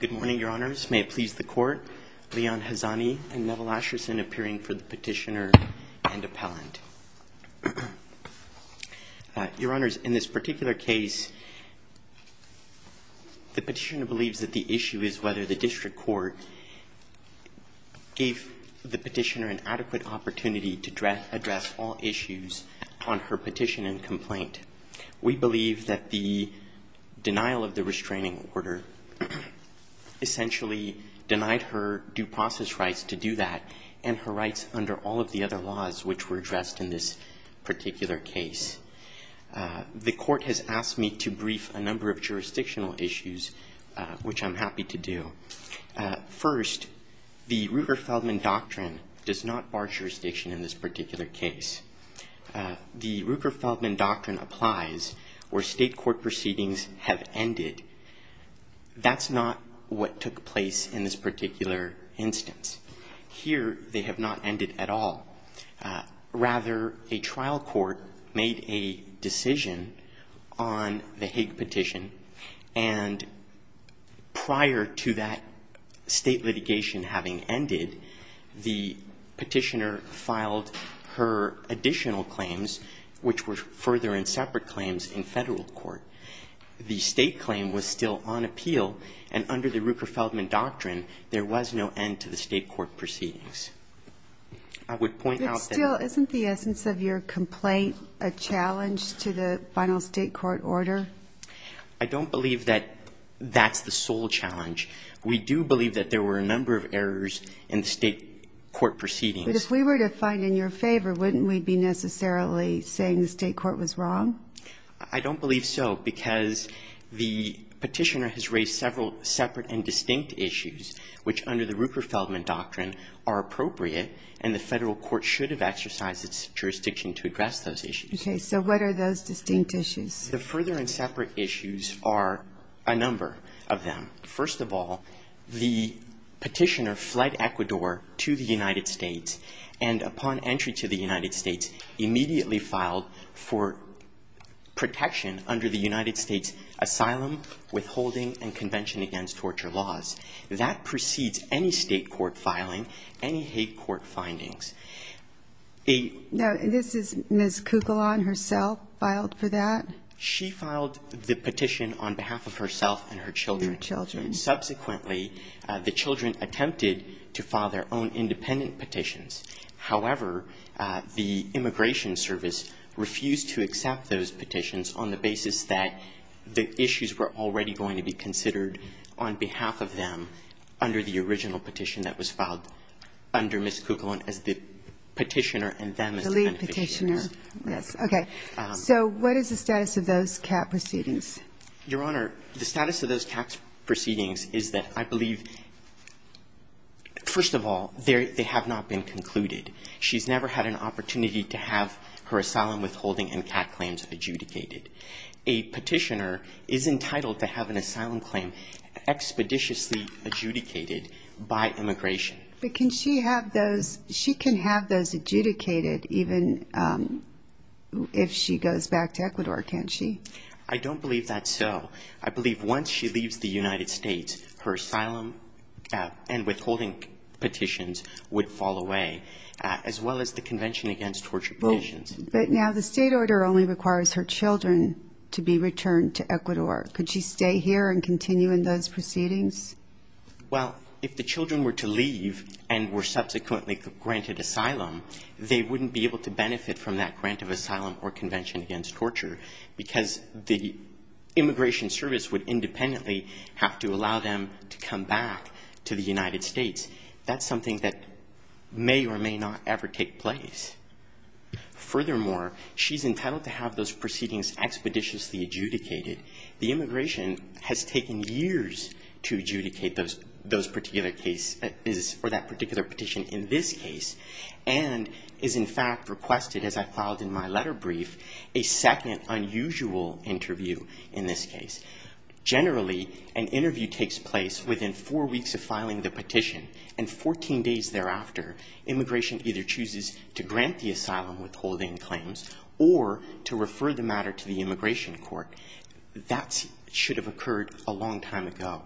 Good morning, Your Honors. May it please the Court, Leon Hazani and Neville Asherson appearing for the petitioner and appellant. Your Honors, in this particular case, the petitioner believes that the issue is whether the district court gave the petitioner an adequate opportunity to address all issues on her petition and complaint. We believe that the denial of the restraining order essentially denied her due process rights to do that and her rights under all of the other laws which were addressed in this particular case. The Court has asked me to brief a number of jurisdictional issues, which I'm happy to do. First, the Ruger-Feldman does not bar jurisdiction in this particular case. The Ruger-Feldman doctrine applies where state court proceedings have ended. That's not what took place in this particular instance. Here, they have not ended at all. Rather, a trial court made a decision on the Hague petition and prior to that state litigation having ended, the petitioner filed her additional claims, which were further and separate claims in federal court. The state claim was still on appeal and under the Ruger-Feldman doctrine, there was no end to the state court proceedings. I would point out that Still, isn't the essence of your complaint a challenge to the final state court order? I don't believe that that's the sole challenge. We do believe that there were a number of errors in the state court proceedings. But if we were to find in your favor, wouldn't we be necessarily saying the state court was wrong? I don't believe so, because the petitioner has raised several separate and distinct issues, which under the Ruger-Feldman doctrine are appropriate and the federal court should have exercised its jurisdiction to address those issues. Okay. So what are those distinct issues? The further and separate issues are a number of them. First of all, the petitioner fled Ecuador to the United States and upon entry to the United States, immediately filed for protection under the United States Asylum Withholding and Convention Against Torture Laws. That precedes any state court filing, any Hague court findings. Now, this is Ms. Cucullan herself filed for that? She filed the petition on behalf of herself and her children. Her children. Subsequently, the children attempted to file their own independent petitions. However, the Immigration Service refused to accept those petitions on the basis that the issues were already going to be considered on behalf of them under the original petition that was filed under Ms. Cucullan as the petitioner and them as the beneficiaries. I believe petitioner. Yes. Okay. So what is the status of those CAT proceedings? Your Honor, the status of those CAT proceedings is that I believe, first of all, they have not been concluded. She's never had an opportunity to have her asylum withholding and CAT claims adjudicated. A petitioner is entitled to have an asylum claim expeditiously adjudicated by immigration. But can she have those? She can have those adjudicated even if she goes back to Ecuador, can't she? I don't believe that's so. I believe once she leaves the United States, her asylum and withholding petitions would fall away, as well as the Convention Against Torture Petitions. But now the state order only requires her children to be returned to Ecuador. Could she stay here and continue in those proceedings? Well, if the children were to leave and were subsequently granted asylum, they wouldn't be able to benefit from that grant of asylum or Convention Against Torture because the immigration service would independently have to allow them to come back to the United States. That's something that may or may not ever take place. Furthermore, she's entitled to have those proceedings expeditiously adjudicated. The immigration has taken years to adjudicate those particular cases or that particular petition in this case and is in fact requested, as I filed in my letter brief, a second unusual interview in this case. Generally, an interview takes place within four weeks of filing the petition and 14 days thereafter. Immigration either chooses to grant the asylum withholding claims or to refer the matter to the immigration court. That should have occurred a long time ago.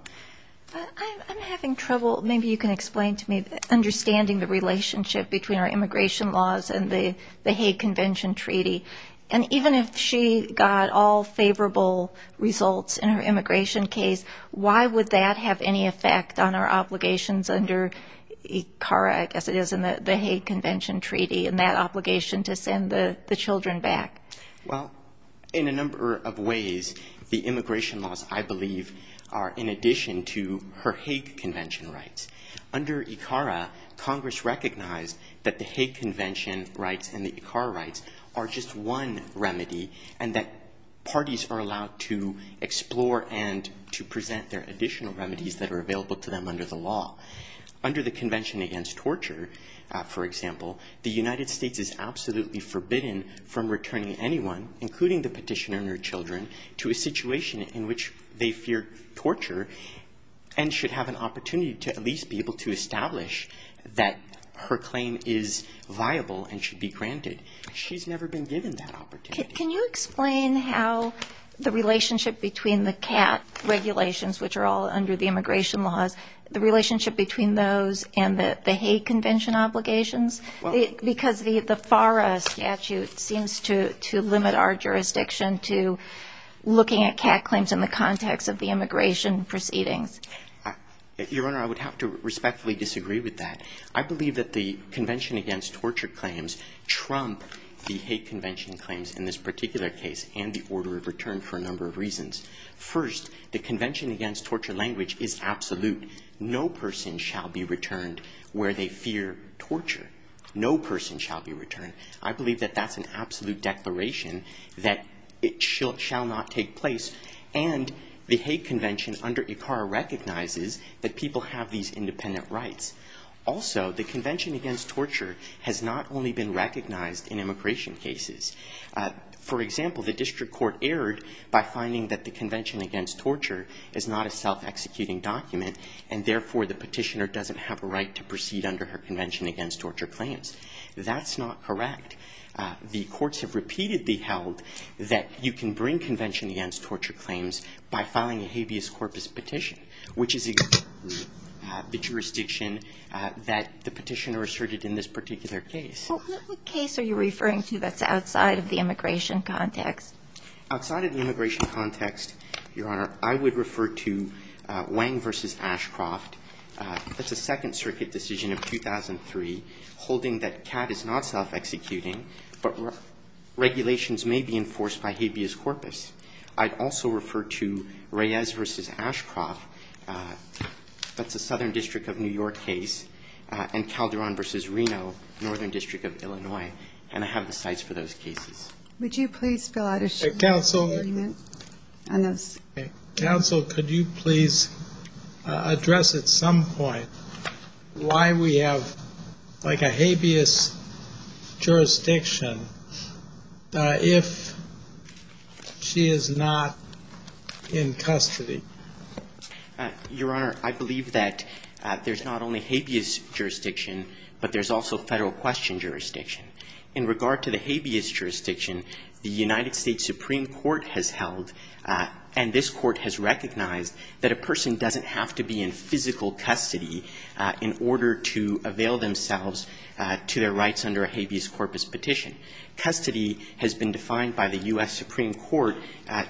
I'm having trouble, maybe you can explain to me, understanding the relationship between our immigration laws and the Hague Convention Treaty. And even if she got all favorable results in her immigration case, why would that have any effect on our obligations under ICARA, I guess it is, and the Hague Convention Treaty and that obligation to send the children back? Well, in a number of ways, the immigration laws, I believe, are in addition to her Hague Convention rights. Under ICARA, Congress recognized that the Hague Convention rights and the ICARA rights are just one remedy and that parties are allowed to explore and to present their additional remedies that are available to them under the law. Under the Convention Against Torture, for example, the United States is absolutely forbidden from returning anyone, including the petitioner and her children, to a situation in which they fear torture and should have an opportunity to at least be able to establish that her She's never been given that opportunity. Can you explain how the relationship between the CAT regulations, which are all under the immigration laws, the relationship between those and the Hague Convention obligations? Because the FARA statute seems to limit our jurisdiction to looking at CAT claims in the context of the immigration proceedings. Your Honor, I would have to respectfully disagree with that. I believe that the Convention Against Torture claims trump the Hague Convention claims in this particular case and the order of return for a number of reasons. First, the Convention Against Torture language is absolute. No person shall be returned where they fear torture. No person shall be returned. I believe that that's an absolute declaration that it shall not take place. And the Hague Convention under ICARA recognizes that people have these independent rights. Also, the Convention Against Torture has not only been recognized in immigration cases. For example, the district court erred by finding that the Convention Against Torture is not a self-executing document, and therefore the petitioner doesn't have a right to proceed under her Convention Against Torture claims. That's not correct. The courts have repeatedly held that you can bring Convention Against Torture claims by filing a habeas corpus petition, which is the jurisdiction that the petitioner asserted in this particular case. Well, what case are you referring to that's outside of the immigration context? Outside of the immigration context, Your Honor, I would refer to Wang v. Ashcroft. That's a Second Circuit decision of 2003 holding that CAD is not self-executing, but regulations may be enforced by habeas corpus. I'd also refer to Reyes v. Ashcroft. That's a Southern District of New York case. And Calderon v. Reno, Northern District of Illinois. And I have the sites for those cases. Would you please fill out a statement on those? Counsel, could you please address at some point why we have, like, a habeas jurisdiction if she is not in custody? Your Honor, I believe that there's not only habeas jurisdiction, but there's also Federal Question jurisdiction. In regard to the habeas jurisdiction, the United States Supreme Court has held, and this Court has recognized, that a person doesn't have to be in physical custody in order to avail themselves to their rights under a habeas corpus petition. Custody has been defined by the U.S. Supreme Court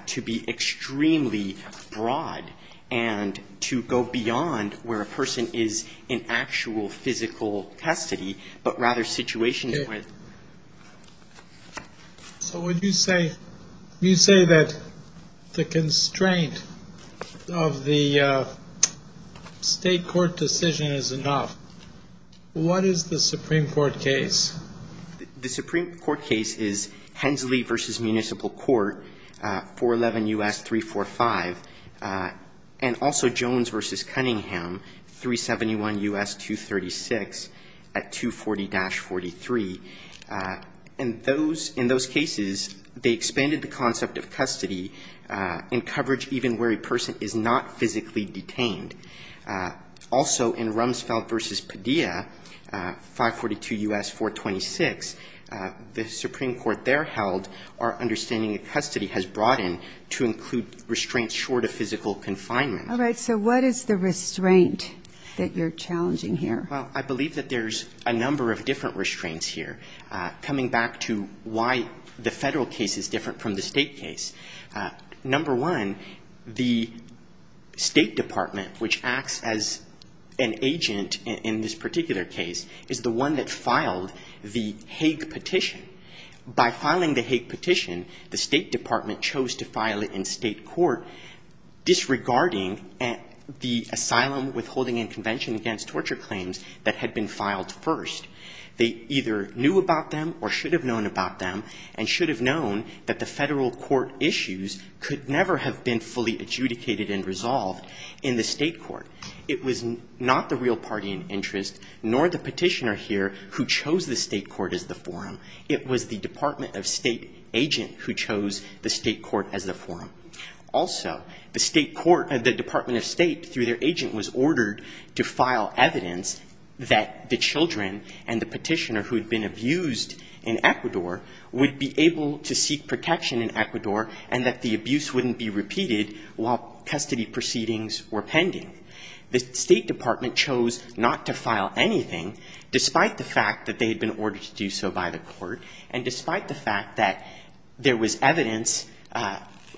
to be extremely broad and to go beyond where a person is in actual physical custody, but rather situations where they're not. So would you say, you say that the constraint of the State court to allow a person to be in physical custody under the State court decision is enough? What is the Supreme Court case? The Supreme Court case is Hensley v. Municipal Court, 411 U.S. 345, and also Jones v. Cunningham, 371 U.S. 236 at 240-43. And those, in those cases, they expanded the concept of custody in coverage even where a person is not physically detained. Also, in Rumsfeld v. Padilla, 542 U.S. 426, the Supreme Court there held our understanding that custody has broadened to include restraints short of physical confinement. All right. So what is the restraint that you're challenging here? Well, I believe that there's a number of different restraints here, coming back to why the number one, the State Department, which acts as an agent in this particular case, is the one that filed the Hague petition. By filing the Hague petition, the State Department chose to file it in State court disregarding the asylum withholding and convention against torture claims that had been filed first. They either knew about them or should have known about them and should have known that the federal court issues could never have been fully adjudicated and resolved in the State court. It was not the real party in interest, nor the petitioner here, who chose the State court as the forum. It was the Department of State agent who chose the State court as the forum. Also, the State court, the Department of State, through their agent, was ordered to file in Ecuador, would be able to seek protection in Ecuador and that the abuse wouldn't be repeated while custody proceedings were pending. The State Department chose not to file anything, despite the fact that they had been ordered to do so by the court and despite the fact that there was evidence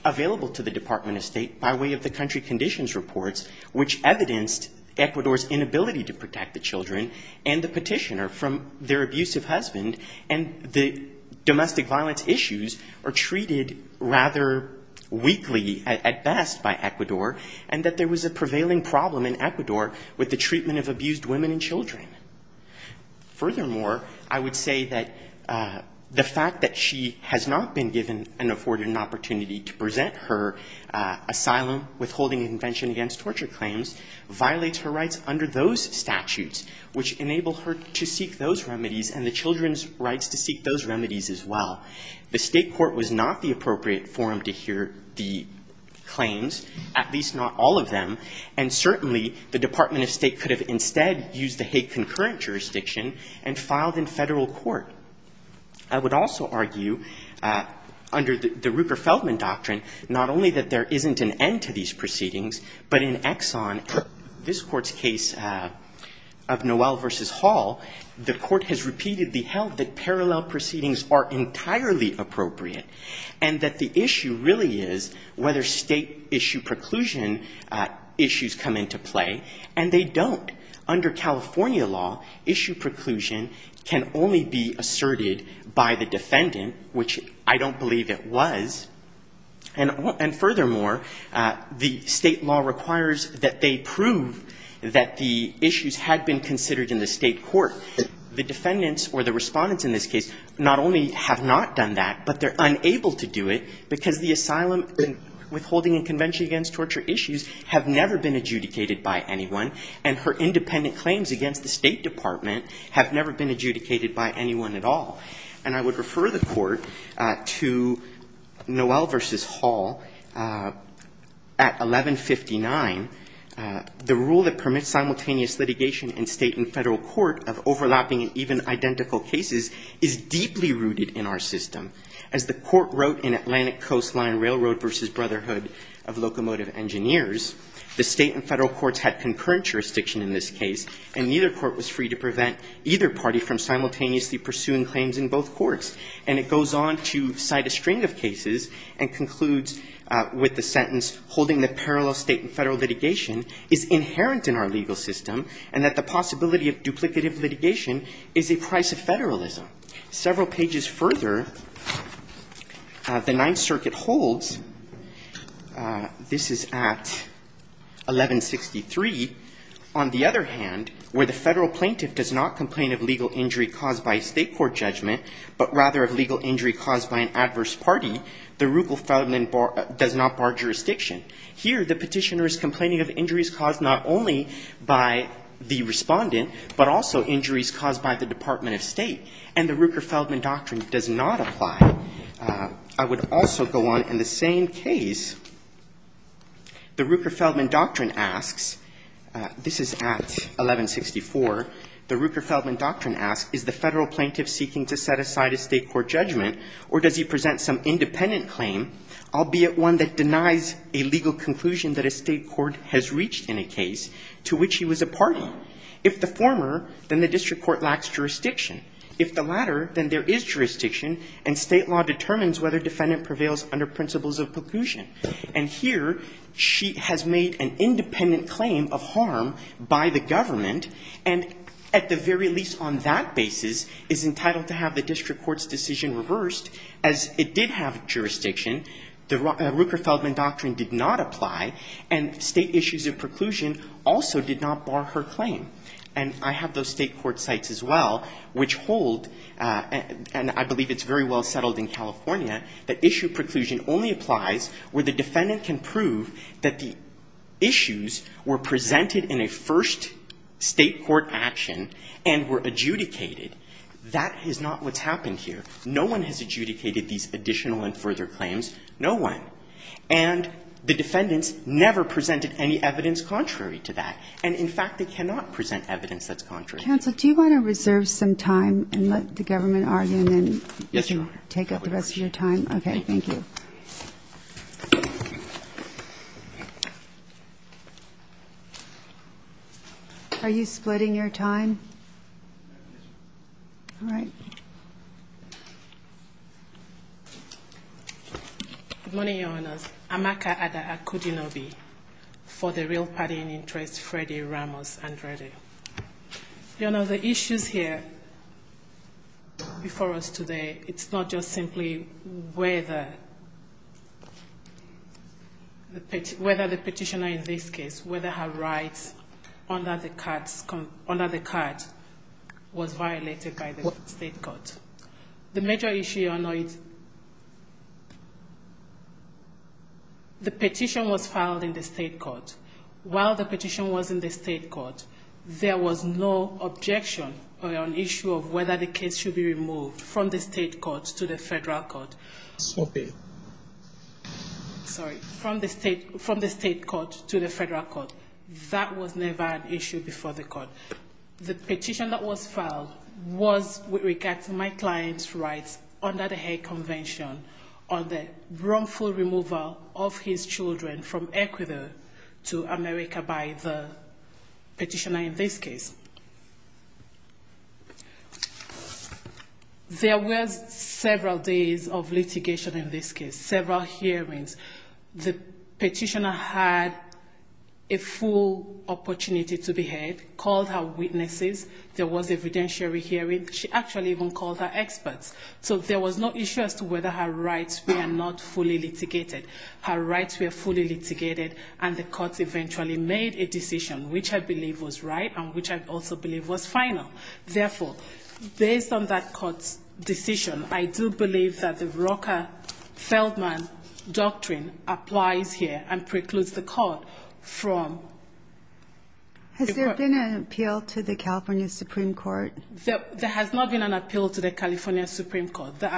available to the Department of State by way of the country conditions reports, which evidenced Ecuador's inability to protect the children and the petitioner from their abusive husband and the domestic violence issues are treated rather weakly at best by Ecuador and that there was a prevailing problem in Ecuador with the treatment of abused women and children. Furthermore, I would say that the fact that she has not been given and afforded an opportunity to present her asylum withholding and convention against torture claims violates her rights under those statutes, which enable her to seek those remedies and the children's rights to seek those remedies as well. The State court was not the appropriate forum to hear the claims, at least not all of them, and certainly, the Department of State could have instead used the Hague concurrent jurisdiction and filed in Federal court. I would also argue, under the Ruker-Feldman doctrine, not only that there isn't an end to these proceedings, but in Exxon, this court's case of Noel versus Hall, the court has repeatedly held that parallel proceedings are entirely appropriate and that the issue really is whether state issue preclusion issues come into play, and they don't. Under California law, issue preclusion can only be asserted by the defendant, which I don't believe it was, and furthermore, the state law requires that they prove that the issues had been considered in the state court. The defendants or the respondents in this case not only have not done that, but they're unable to do it because the asylum withholding and convention against torture issues have never been adjudicated by anyone, and her independent claims against the State Department have never been adjudicated. Under Noel versus Hall, at 1159, the rule that permits simultaneous litigation in state and federal court of overlapping and even identical cases is deeply rooted in our system. As the court wrote in Atlantic Coastline Railroad versus Brotherhood of Locomotive Engineers, the state and federal courts had concurrent jurisdiction in this case, and neither court was free to prevent either party from committing duplicative cases and concludes with the sentence, holding the parallel state and federal litigation is inherent in our legal system, and that the possibility of duplicative litigation is a price of federalism. Several pages further, the Ninth Circuit holds, this is at 1163, on the other hand, where the federal plaintiff does not complain of legal injury caused by a state court judgment, but rather of legal injury caused by an adverse party, the Ruker-Feldman does not bar jurisdiction. Here the petitioner is complaining of injuries caused not only by the respondent, but also injuries caused by the Department of State, and the Ruker-Feldman Doctrine does not apply. I would also go on, in the same case, the Ruker-Feldman Doctrine asks, this is at 1164, the Ruker-Feldman Doctrine asks, is the federal plaintiff seeking to set aside a state court judgment, or does he present some independent claim, albeit one that denies a legal conclusion that a state court has reached in a case to which he was a party? If the former, then the district court lacks jurisdiction. If the latter, then there is jurisdiction, and state law determines whether defendant prevails under principles of preclusion. And here, she has made an independent claim of harm by the government, and at the very least on that basis, is entitled to have the district court's decision reversed, as it did have jurisdiction. The Ruker-Feldman Doctrine did not apply, and state issues of preclusion also did not bar her claim. And I have those state court sites as well, which hold, and I believe it's very well utilized, where the defendant can prove that the issues were presented in a first state court action, and were adjudicated. That is not what's happened here. No one has adjudicated these additional and further claims. No one. And the defendants never presented any evidence contrary to that. And in fact, they cannot present evidence that's contrary. Counsel, do you want to reserve some time, and let the government argue, and then Yes, Your Honor. Take up the rest of your time? Okay, thank you. Are you splitting your time? All right. Good morning, Your Honors. Amaka Ada Akudinobi, for the Real Party in Interest, Freddie Ramos Andrede. Your Honor, the issues here before us today, it's not just simply whether the petitioner in this case, whether her rights under the card was violated by the state court. The major issue, Your Honor, is the petition was filed in the state court. While the petition was in the state court, there was no objection or an issue of whether the case should be removed from the state court to the federal court. Sorry, from the state court to the federal court. That was never an issue before the court. The petition that was filed was with regard to my client's rights under the card, and wrongful removal of his children from Ecuador to America by the petitioner in this case. There was several days of litigation in this case, several hearings. The petitioner had a full opportunity to be heard, called her witnesses. There was a redemptory hearing. She actually even called her experts. So there was no issue as to whether her rights were not fully litigated. Her rights were fully litigated, and the court eventually made a decision, which I believe was right and which I also believe was final. Therefore, based on that court's decision, I do believe that the Rocha-Feldman doctrine applies here and precludes the court from... There has not been an appeal to the California Supreme Court. The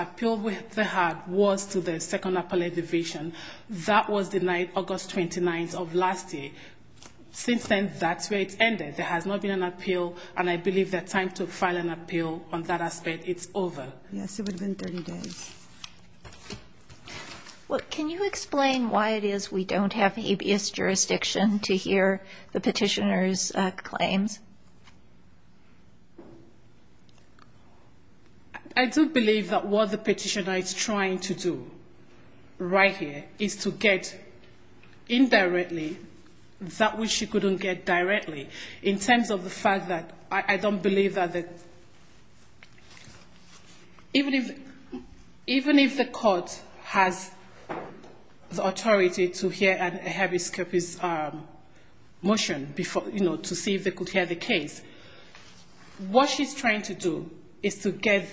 appeal they had was to the Second Appellate Division. That was denied August 29th of last year. Since then, that's where it's ended. There has not been an appeal, and I believe the time to file an appeal on that aspect, it's over. Can you explain why it is we don't have habeas jurisdiction to hear the petitioner's claims? I do believe that what the petitioner is trying to do right here is to get indirectly that which she couldn't get directly, in terms of the fact that I don't believe that... Even if the court has the authority to hear a habeas motion to see if they could hear the case, what she's trying to do is to get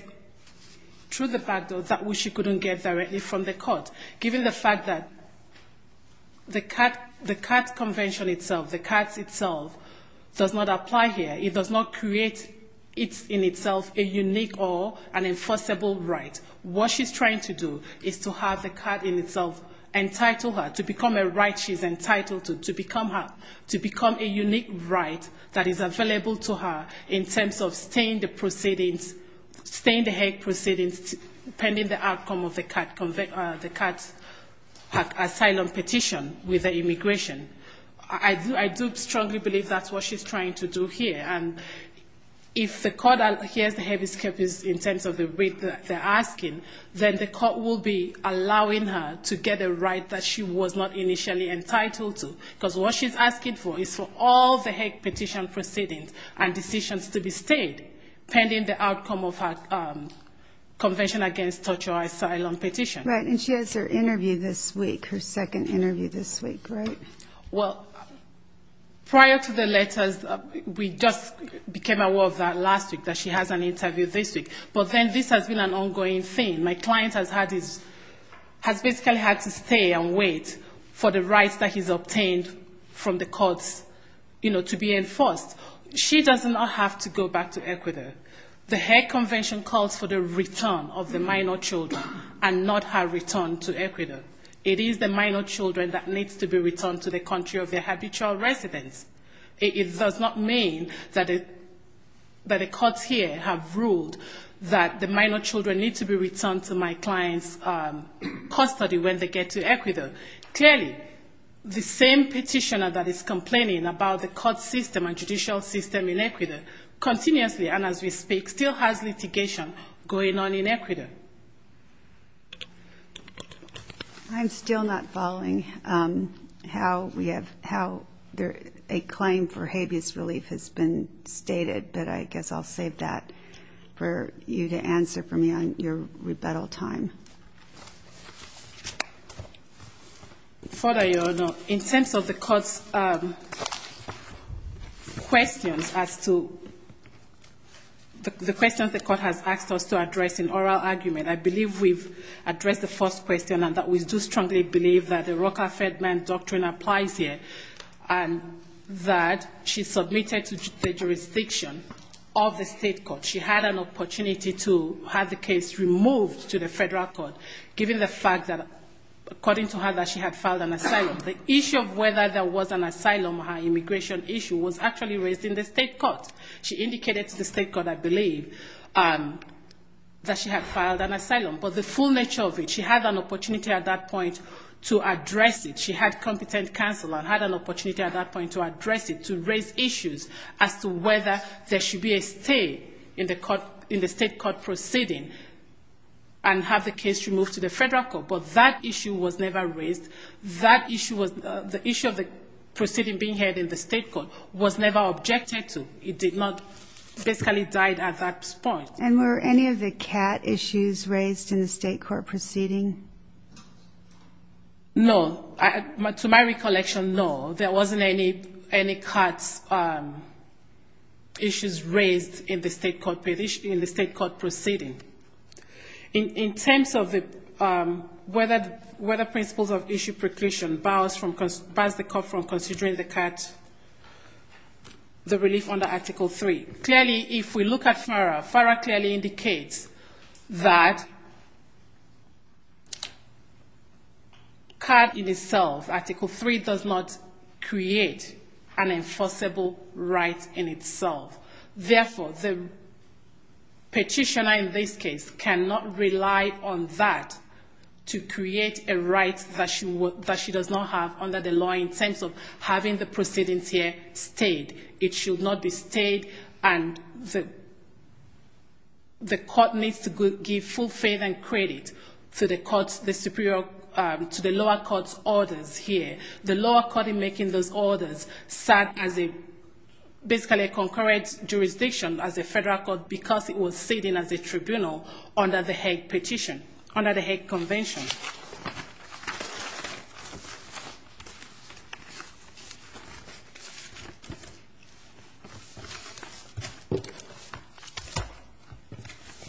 through the back door that which she couldn't get directly from the court, given the fact that the CAT Convention itself, the CATS itself, does not apply here. It does not create in itself a unique or an enforceable right. What she's trying to do is to have the CAT in itself entitle her, to become a right she's entitled to, to become a unique right that is available to her in terms of staying the proceedings, staying the Hague proceedings pending the outcome of the CAT asylum petition with the immigration. I do strongly believe that's what she's trying to do here, and if the court hears the habeas case in terms of the way that they're asking, then the court will be allowing her to get a right that she was not initially entitled to, because what she's asking for is for all the Hague petition proceedings and decisions to be stayed pending the outcome of her Convention Against Torture or Asylum petition. Right, and she has her interview this week, her second interview this week, right? Well, prior to the letters, we just became aware of that last week, that she has an interview this week. But then this has been an ongoing thing. My client has had his, has basically had to stay and wait for the rights that he's obtained from the courts, you know, to be enforced. She does not have to go back to Ecuador. The Hague Convention calls for the return of the minor children and not her return to Ecuador. It is the minor children that needs to be returned to the country of their habitual residence. It does not mean that the courts here have ruled that the minor children need to be returned to my client's custody when they get to Ecuador. Clearly, the same petitioner that is complaining about the court system and judicial system in Ecuador continuously, and as we speak, still has litigation going on in Ecuador. I'm still not following how we have, how a claim for habeas relief has been stated, but I guess I'll save that for you to answer for me on your rebuttal time. In terms of the court's questions as to, the questions the court has asked us to address in oral argument, I believe we've addressed the first question, and that we do strongly believe that the Roca-Fedman doctrine applies here, and that she's submitted to the jurisdiction of the state of Ecuador. She had an opportunity to have the case removed to the federal court, given the fact that, according to her, that she had filed an asylum. The issue of whether there was an asylum, her immigration issue, was actually raised in the state court. She indicated to the state court, I believe, that she had filed an asylum. But the full nature of it, she had an opportunity at that point to address it. She had competent counsel and had an opportunity at that point to address it, to raise issues as to whether there should be a stay in the court, in the state court proceeding, and have the case removed to the federal court. But that issue was never raised. That issue was, the issue of the proceeding being held in the state court was never objected to. It did not, basically died at that point. And were any of the CAT issues raised in the state court proceeding? No. To my recollection, no. There wasn't any CAT issues raised in the state court proceeding. In terms of whether principles of issue preclusion bars the court from considering the relief under Article 3. Clearly, if we look at FARA, FARA clearly indicates that CAT in itself, Article 3, does not create an enforceable right in itself. Therefore, the petitioner in this case cannot rely on that to create a right that she does not have under the law in terms of having the proceedings here stayed. It should not be stayed and the court needs to give full faith and credit to the lower court's orders here. The lower court in making those orders sat as a, basically a concurrent jurisdiction as a federal court because it was sitting as a tribunal under the Hague Petition, under the Hague Convention.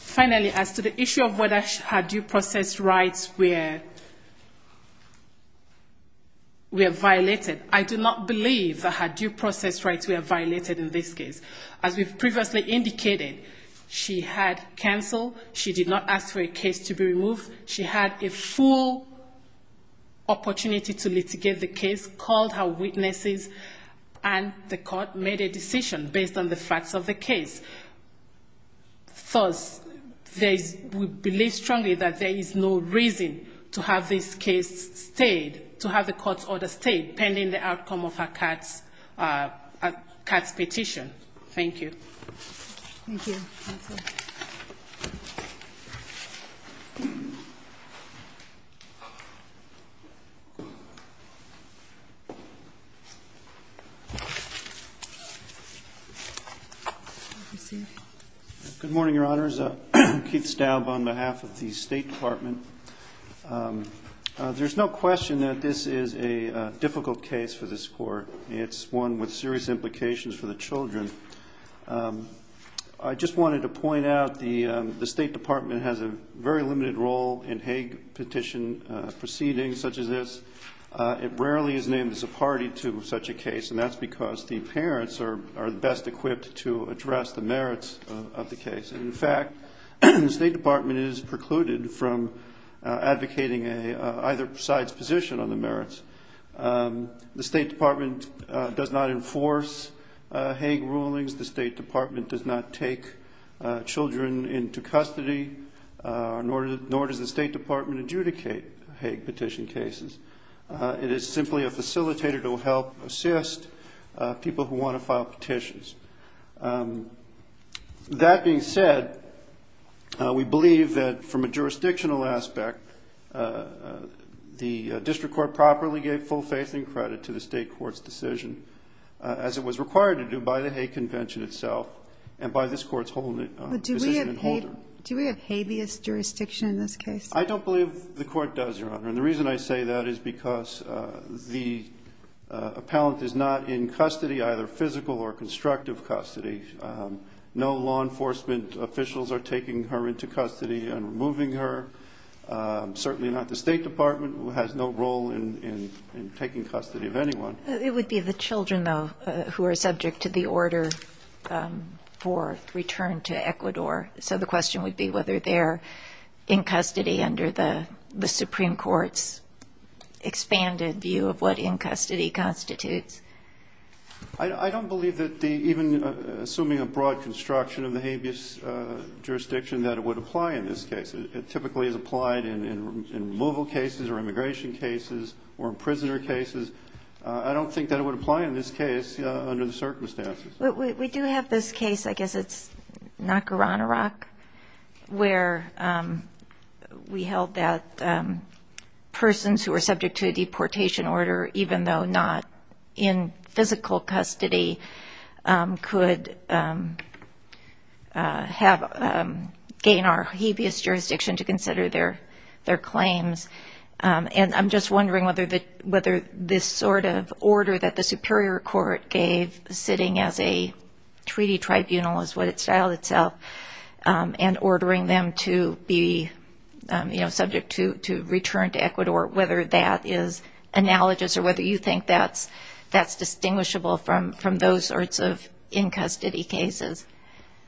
Finally, as to the issue of whether she had due process rights, where... where violated, I do not believe that her due process rights were violated in this case. As we've previously indicated, she had counsel, she did not ask for a case to be removed, she had a full opportunity to litigate the case, called her witnesses, and the court made a decision based on the facts of the case. Thus, there is, we believe strongly that there is no reason to have this case stayed, to have the court's decision stayed pending the outcome of a COTS, a COTS petition. Thank you. Good morning, Your Honors. Keith Staub on behalf of the State Department. There's no question that this is a difficult case for this court. It's one with serious implications for the children. I just wanted to point out the State Department has a very limited role in Hague Petition proceedings such as this. It rarely is named as a party to such a case, and that's because the parents are best equipped to address the merits of the case. In fact, the State Department is precluded from advocating either side's position on the case. The State Department does not enforce Hague rulings, the State Department does not take children into custody, nor does the State Department adjudicate Hague petition cases. It is simply a facilitator to help assist people who want to file petitions. That being said, we believe that from a jurisdictional aspect, the district court properly gave full faith that the state court's decision, as it was required to do by the Hague Convention itself, and by this court's decision and holder. I don't believe the court does, Your Honor, and the reason I say that is because the appellant is not in custody, either physical or constructive custody. No law enforcement officials are taking her into custody and removing her. Certainly not the State Department, who has no role in taking custody of anyone. It would be the children, though, who are subject to the order for return to Ecuador. So the question would be whether they're in custody under the Supreme Court's expanded view of what in custody constitutes. I don't believe that even assuming a broad construction of the habeas jurisdiction that it would apply in this case. It typically is applied in removal cases or immigration cases or prisoner cases. I don't think that it would apply in this case under the circumstances. We do have this case, I guess it's Nacarana Rock, where we held that persons who are subject to a deportation order, even though not in physical custody, could gain our habeas jurisdiction. And I'm just wondering whether this sort of order that the Superior Court gave, sitting as a treaty tribunal is what it styled itself, and ordering them to be subject to return to Ecuador. Whether that is analogous or whether you think that's distinguishable from those sorts of in custody cases.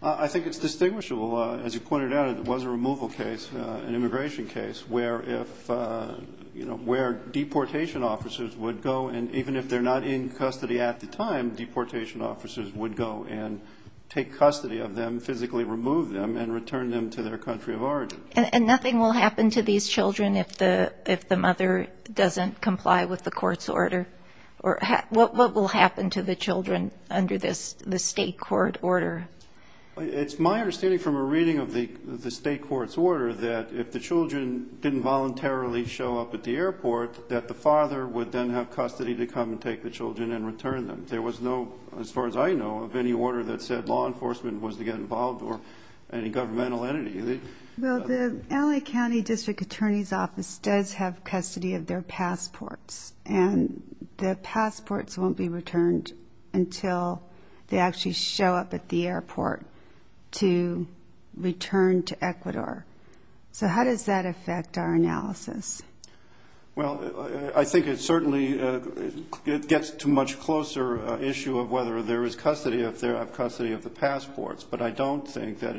I think it's distinguishable. As you pointed out, it was a removal case, an immigration case, where if, you know, where deportation officers would go, and even if they're not in custody at the time, deportation officers would go and take custody of them, physically remove them, and return them to their country of origin. And nothing will happen to these children if the mother doesn't comply with the court's order? Or what will happen to the children under the state court order? It's my understanding from a reading of the state court's order that if the children didn't voluntarily show up at the airport, that the father would then have custody to come and take the children and return them. There was no, as far as I know, of any order that said law enforcement was to get involved or any governmental entity. Well, the LA County District Attorney's Office does have custody of their passports. And the passports won't be returned until they actually show up at the airport to return to Ecuador. So how does that affect our analysis? Well, I think it certainly gets to a much closer issue of whether there is custody, if they have custody of the passports. But I don't think that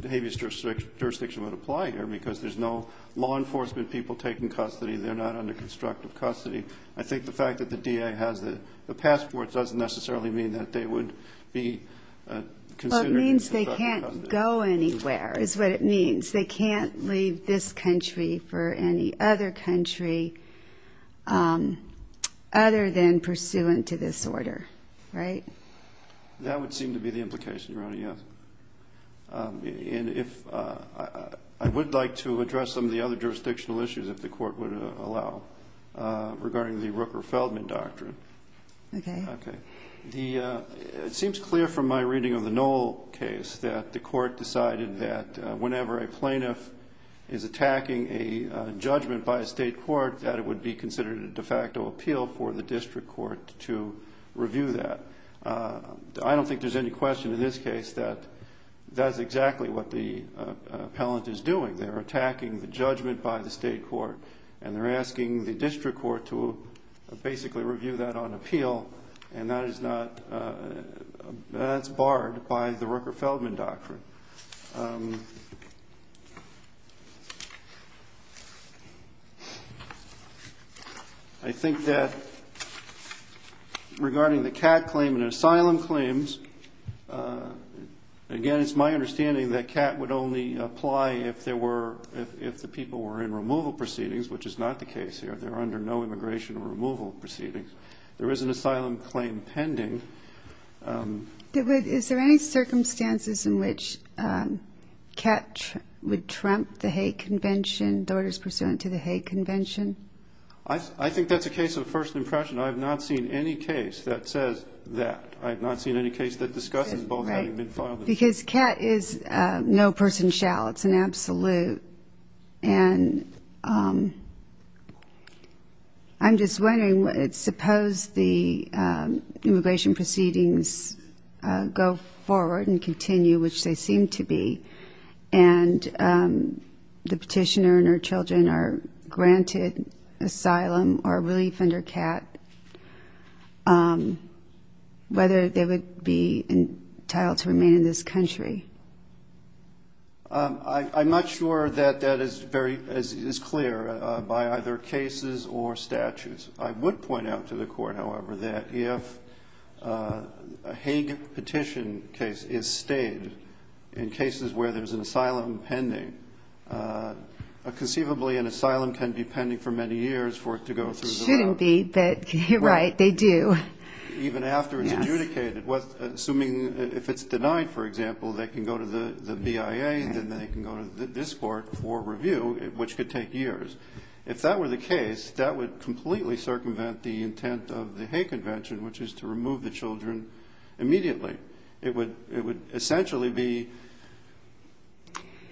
the habeas jurisdiction would apply here, because there's no law enforcement people taking custody. They're not under constructive custody. I think the fact that the DA has the passports doesn't necessarily mean that they would be considered constructive custody. Well, it means they can't go anywhere, is what it means. They can't leave this country for any other country other than pursuant to this order, right? That would seem to be the implication, Your Honor, yes. And I would like to address some of the other jurisdictional issues, if the Court would allow, regarding the Rooker-Feldman Doctrine. Okay. It seems clear from my reading of the Knoll case that the Court decided that whenever a plaintiff is attacking a judgment by a state court, that it would be considered a de facto appeal for the District Court to review that. I don't think there's any question in this case that that's exactly what the appellant is doing. They're attacking the judgment by the state court, and they're asking the District Court to basically review that on appeal, and that's barred by the Rooker-Feldman Doctrine. I think that regarding the Catt claim and asylum claims, again, it's my understanding that Catt would only apply if there were, if the people were in removal proceedings, which is not the case here, they're under no immigration or removal proceedings. There is an asylum claim pending. And Catt would trump the Hague Convention, the orders pursuant to the Hague Convention? I think that's a case of first impression. I have not seen any case that says that. I have not seen any case that discusses both having been filed. Because Catt is no person shall. It's an absolute. And I'm just wondering, suppose the immigration proceedings go forward and continue, which they seem to be, and the petitioner and her children are granted asylum or relief under Catt, whether they would be entitled to remain in this country? I'm not sure that that is clear by either cases or statutes. I would point out to the Court, however, that if a Hague petition case is stayed in cases where there's an asylum pending, conceivably an asylum can be pending for many years for it to go through the law. It shouldn't be, but you're right, they do. Even after it's adjudicated, assuming if it's denied, for example, they can go to the BIA, then they can go to this Court for review, which could take years. If that were the case, that would completely circumvent the intent of the Hague Convention, which is to remove the children immediately. It would essentially be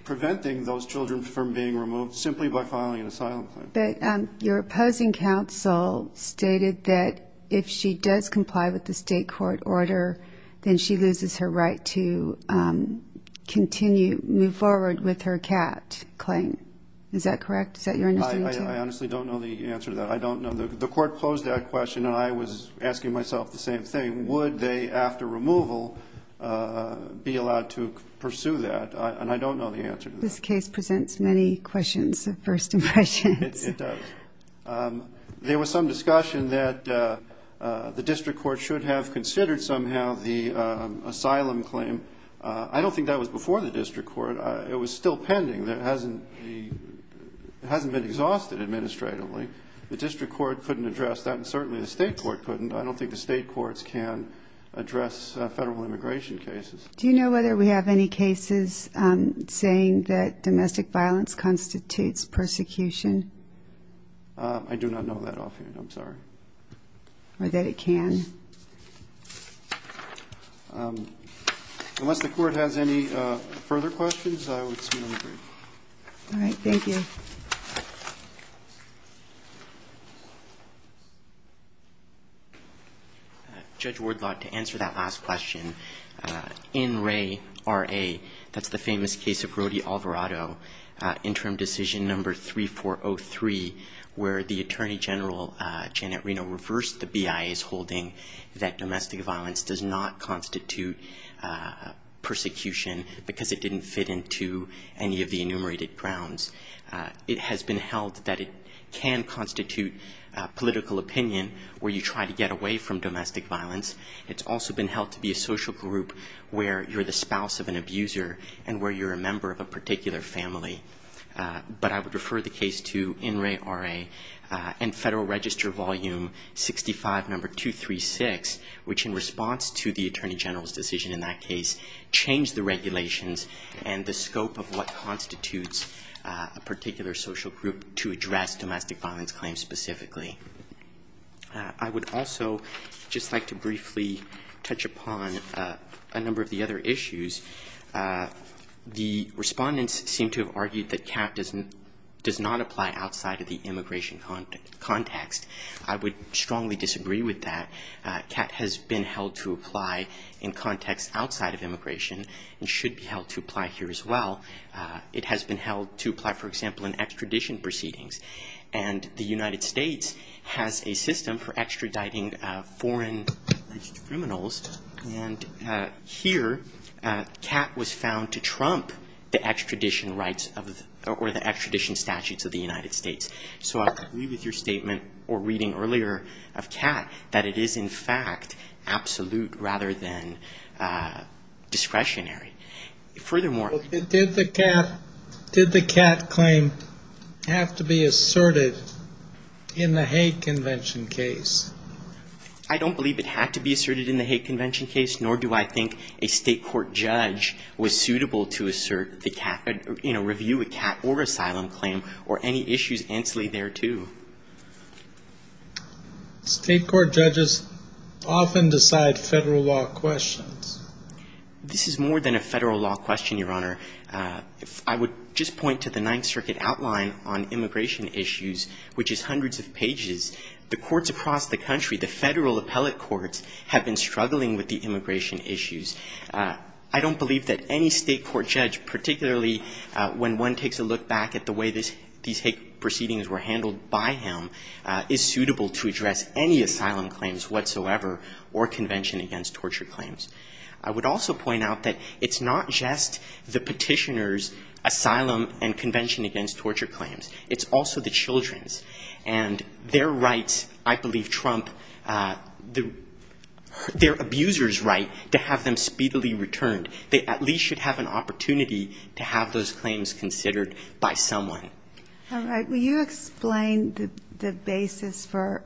preventing those children from being removed simply by filing an asylum claim. But your opposing counsel stated that if she does comply with the state court order, then she loses her right to continue, move forward with her Catt claim. Is that correct? Is that your understanding? I honestly don't know the answer to that. I don't know. The Court posed that question, and I was asking myself the same thing. Would they, after removal, be allowed to pursue that? And I don't know the answer to that. This case presents many questions of first impressions. There was some discussion that the district court should have considered somehow the asylum claim. I don't think that was before the district court. It was still pending. It hasn't been exhausted administratively. The district court couldn't address that, and certainly the state court couldn't. I don't think the state courts can address federal immigration cases. Do you know whether we have any cases saying that domestic violence constitutes persecution? I do not know that offhand. I'm sorry. Unless the Court has any further questions, I would submit a brief. Judge Wardlaw, to answer that last question, in Ray R.A., that's the famous case of Rody Alvarado, Interim Decision No. 3403, where the Attorney General, Janet Reno, reversed the BIA's holding that domestic violence does not constitute persecution because it didn't fit into any of the enumerated grounds. It has been held that it can constitute political opinion where you try to get away with it. It's been held to be a social group where you're the spouse of an abuser and where you're a member of a particular family. But I would refer the case to In Ray R.A. and Federal Register Volume 65, No. 236, which in response to the Attorney General's decision in that case, changed the regulations and the scope of what constitutes a particular social group to address domestic violence claims specifically. I would also just like to briefly touch upon a number of the other issues. The respondents seem to have argued that CAT does not apply outside of the immigration context. I would strongly disagree with that. CAT has been held to apply in context outside of immigration and should be held to apply here as well. It has been held to apply, for example, in extradition proceedings. And the United States has a system for extraditing foreign-registered criminals. And here, CAT was found to trump the extradition statutes of the United States. So I agree with your statement or reading earlier of CAT that it is, in fact, absolute rather than discretionary. Furthermore... Did the CAT claim have to be asserted in the hate convention case? I don't believe it had to be asserted in the hate convention case, nor do I think a state court judge was suitable to assert the CAT, you know, review a CAT or asylum claim or any issues ancillary thereto. State court judges often decide federal law questions. This is more than a federal law question, Your Honor. I would just point to the Ninth Circuit outline on immigration issues, which is hundreds of pages. The courts across the country, the federal appellate courts, have been struggling with the immigration issues. I don't believe that any state court judge, particularly when one takes a look back at the way these hate proceedings were handled by him, is suitable to address any asylum claims whatsoever or convention against torture claims. I would also point out that it's not just the petitioner's asylum and convention against torture claims. It's also the children's. And their rights, I believe trump their abuser's right to have them speedily returned. They at least should have an asylum claim. And I think that's a good point. Ginsburg. All right. Will you explain the basis for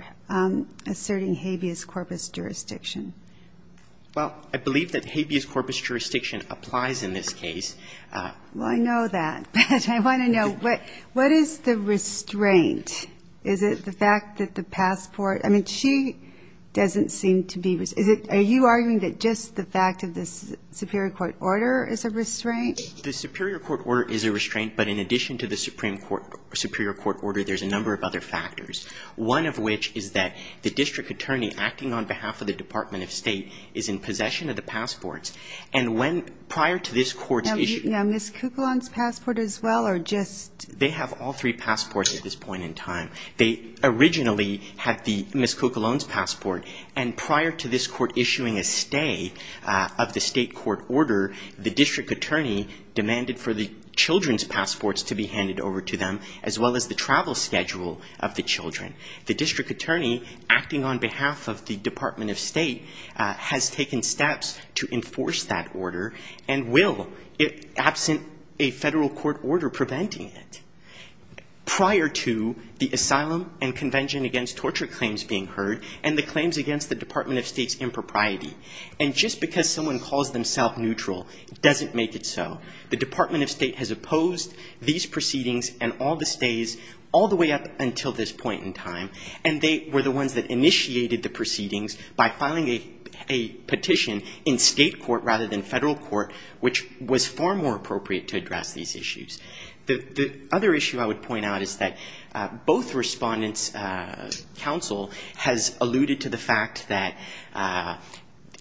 asserting habeas corpus jurisdiction? Well, I believe that habeas corpus jurisdiction applies in this case. Well, I know that. But I want to know, what is the restraint? Is it the fact that the passport? I mean, she doesn't seem to be aware of the fact that the passport is a restraint. The Supreme Court order is a restraint. But in addition to the Supreme Court, Superior Court order, there's a number of other factors, one of which is that the district attorney acting on behalf of the Department of State is in possession of the passports. And when prior to this court's issue, they have all three passports at this point in time. They originally had the Miss Cuccolone's passport. And prior to this court issuing a stay of the state court order, the district attorney demanded for the children's passports to be handed over to them, as well as the travel schedule of the children. The district attorney acting on behalf of the Department of State has taken steps to enforce that order and will, absent a federal court order preventing it. Prior to the asylum and convention against torture claims being heard and the claims against the Department of State's impropriety. And just because someone calls themselves neutral doesn't make it so. The Department of State has opposed these proceedings and all the stays all the way up until this point in time. And they were the ones that initiated the proceedings by filing a petition in state court rather than federal court, which was far more appropriate to address these issues. The other issue I would point out is that both respondents' counsel has alluded to the fact that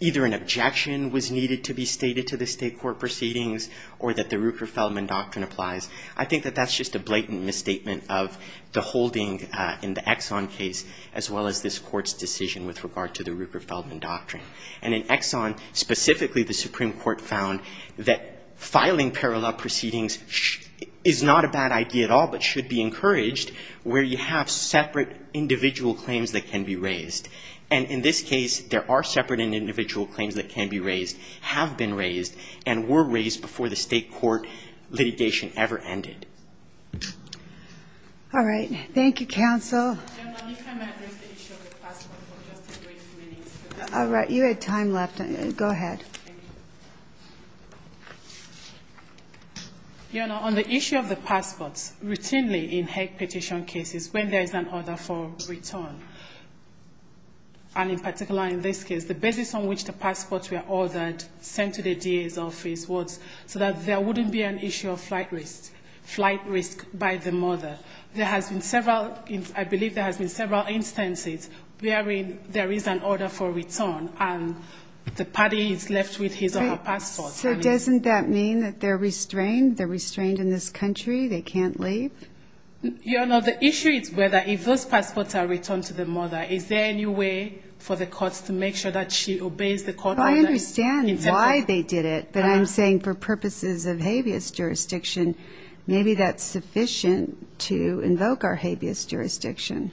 either an objection was needed to be stated to the state court proceedings or that the Ruker-Feldman doctrine applies. I think that that's just a blatant misstatement of the holding in the Exxon case, as well as this court's decision with regard to the Ruker-Feldman doctrine. And in Exxon, specifically the Supreme Court found that filing parallel proceedings should not be considered as an objection. It is not a bad idea at all, but should be encouraged where you have separate individual claims that can be raised. And in this case, there are separate individual claims that can be raised, have been raised, and were raised before the state court litigation ever ended. All right. Thank you, counsel. All right. You had time left. Go ahead. The issue of the passports routinely in Hague petition cases when there is an order for return, and in particular in this case, the basis on which the passports were ordered, sent to the DA's office, was so that there wouldn't be an issue of flight risk, flight risk by the mother. There has been several instances where there is an order for return, and the party is left with his or her passport. So doesn't that mean that they're restrained? They're restrained in this country? They can't leave? Your Honor, the issue is whether if those passports are returned to the mother, is there any way for the courts to make sure that she obeys the court order? I understand why they did it, but I'm saying for purposes of habeas jurisdiction, maybe that's sufficient to invoke our habeas jurisdiction.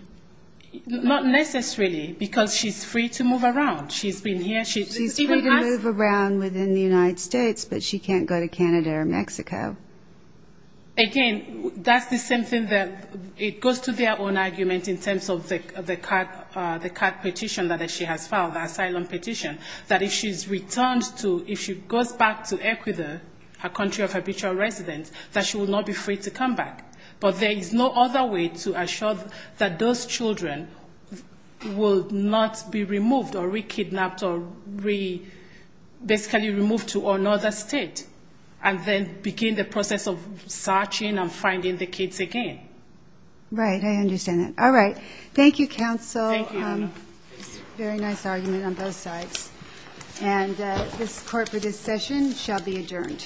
Not necessarily, because she's free to move around. She's free to move around within the United States, but she can't go to Canada or Mexico. Again, that's the same thing that it goes to their own argument in terms of the CAC petition that she has filed, the asylum petition, that if she's returned to, if she goes back to Ecuador, her country of habitual residence, that she will not be free to come back. But there is no other way to assure that those children will not be removed or reclaimed. They will not be kidnapped or basically removed to another state, and then begin the process of searching and finding the kids again. Right, I understand that. All right. Thank you, counsel. Very nice argument on both sides. And this Court for this session shall be adjourned. Thank you.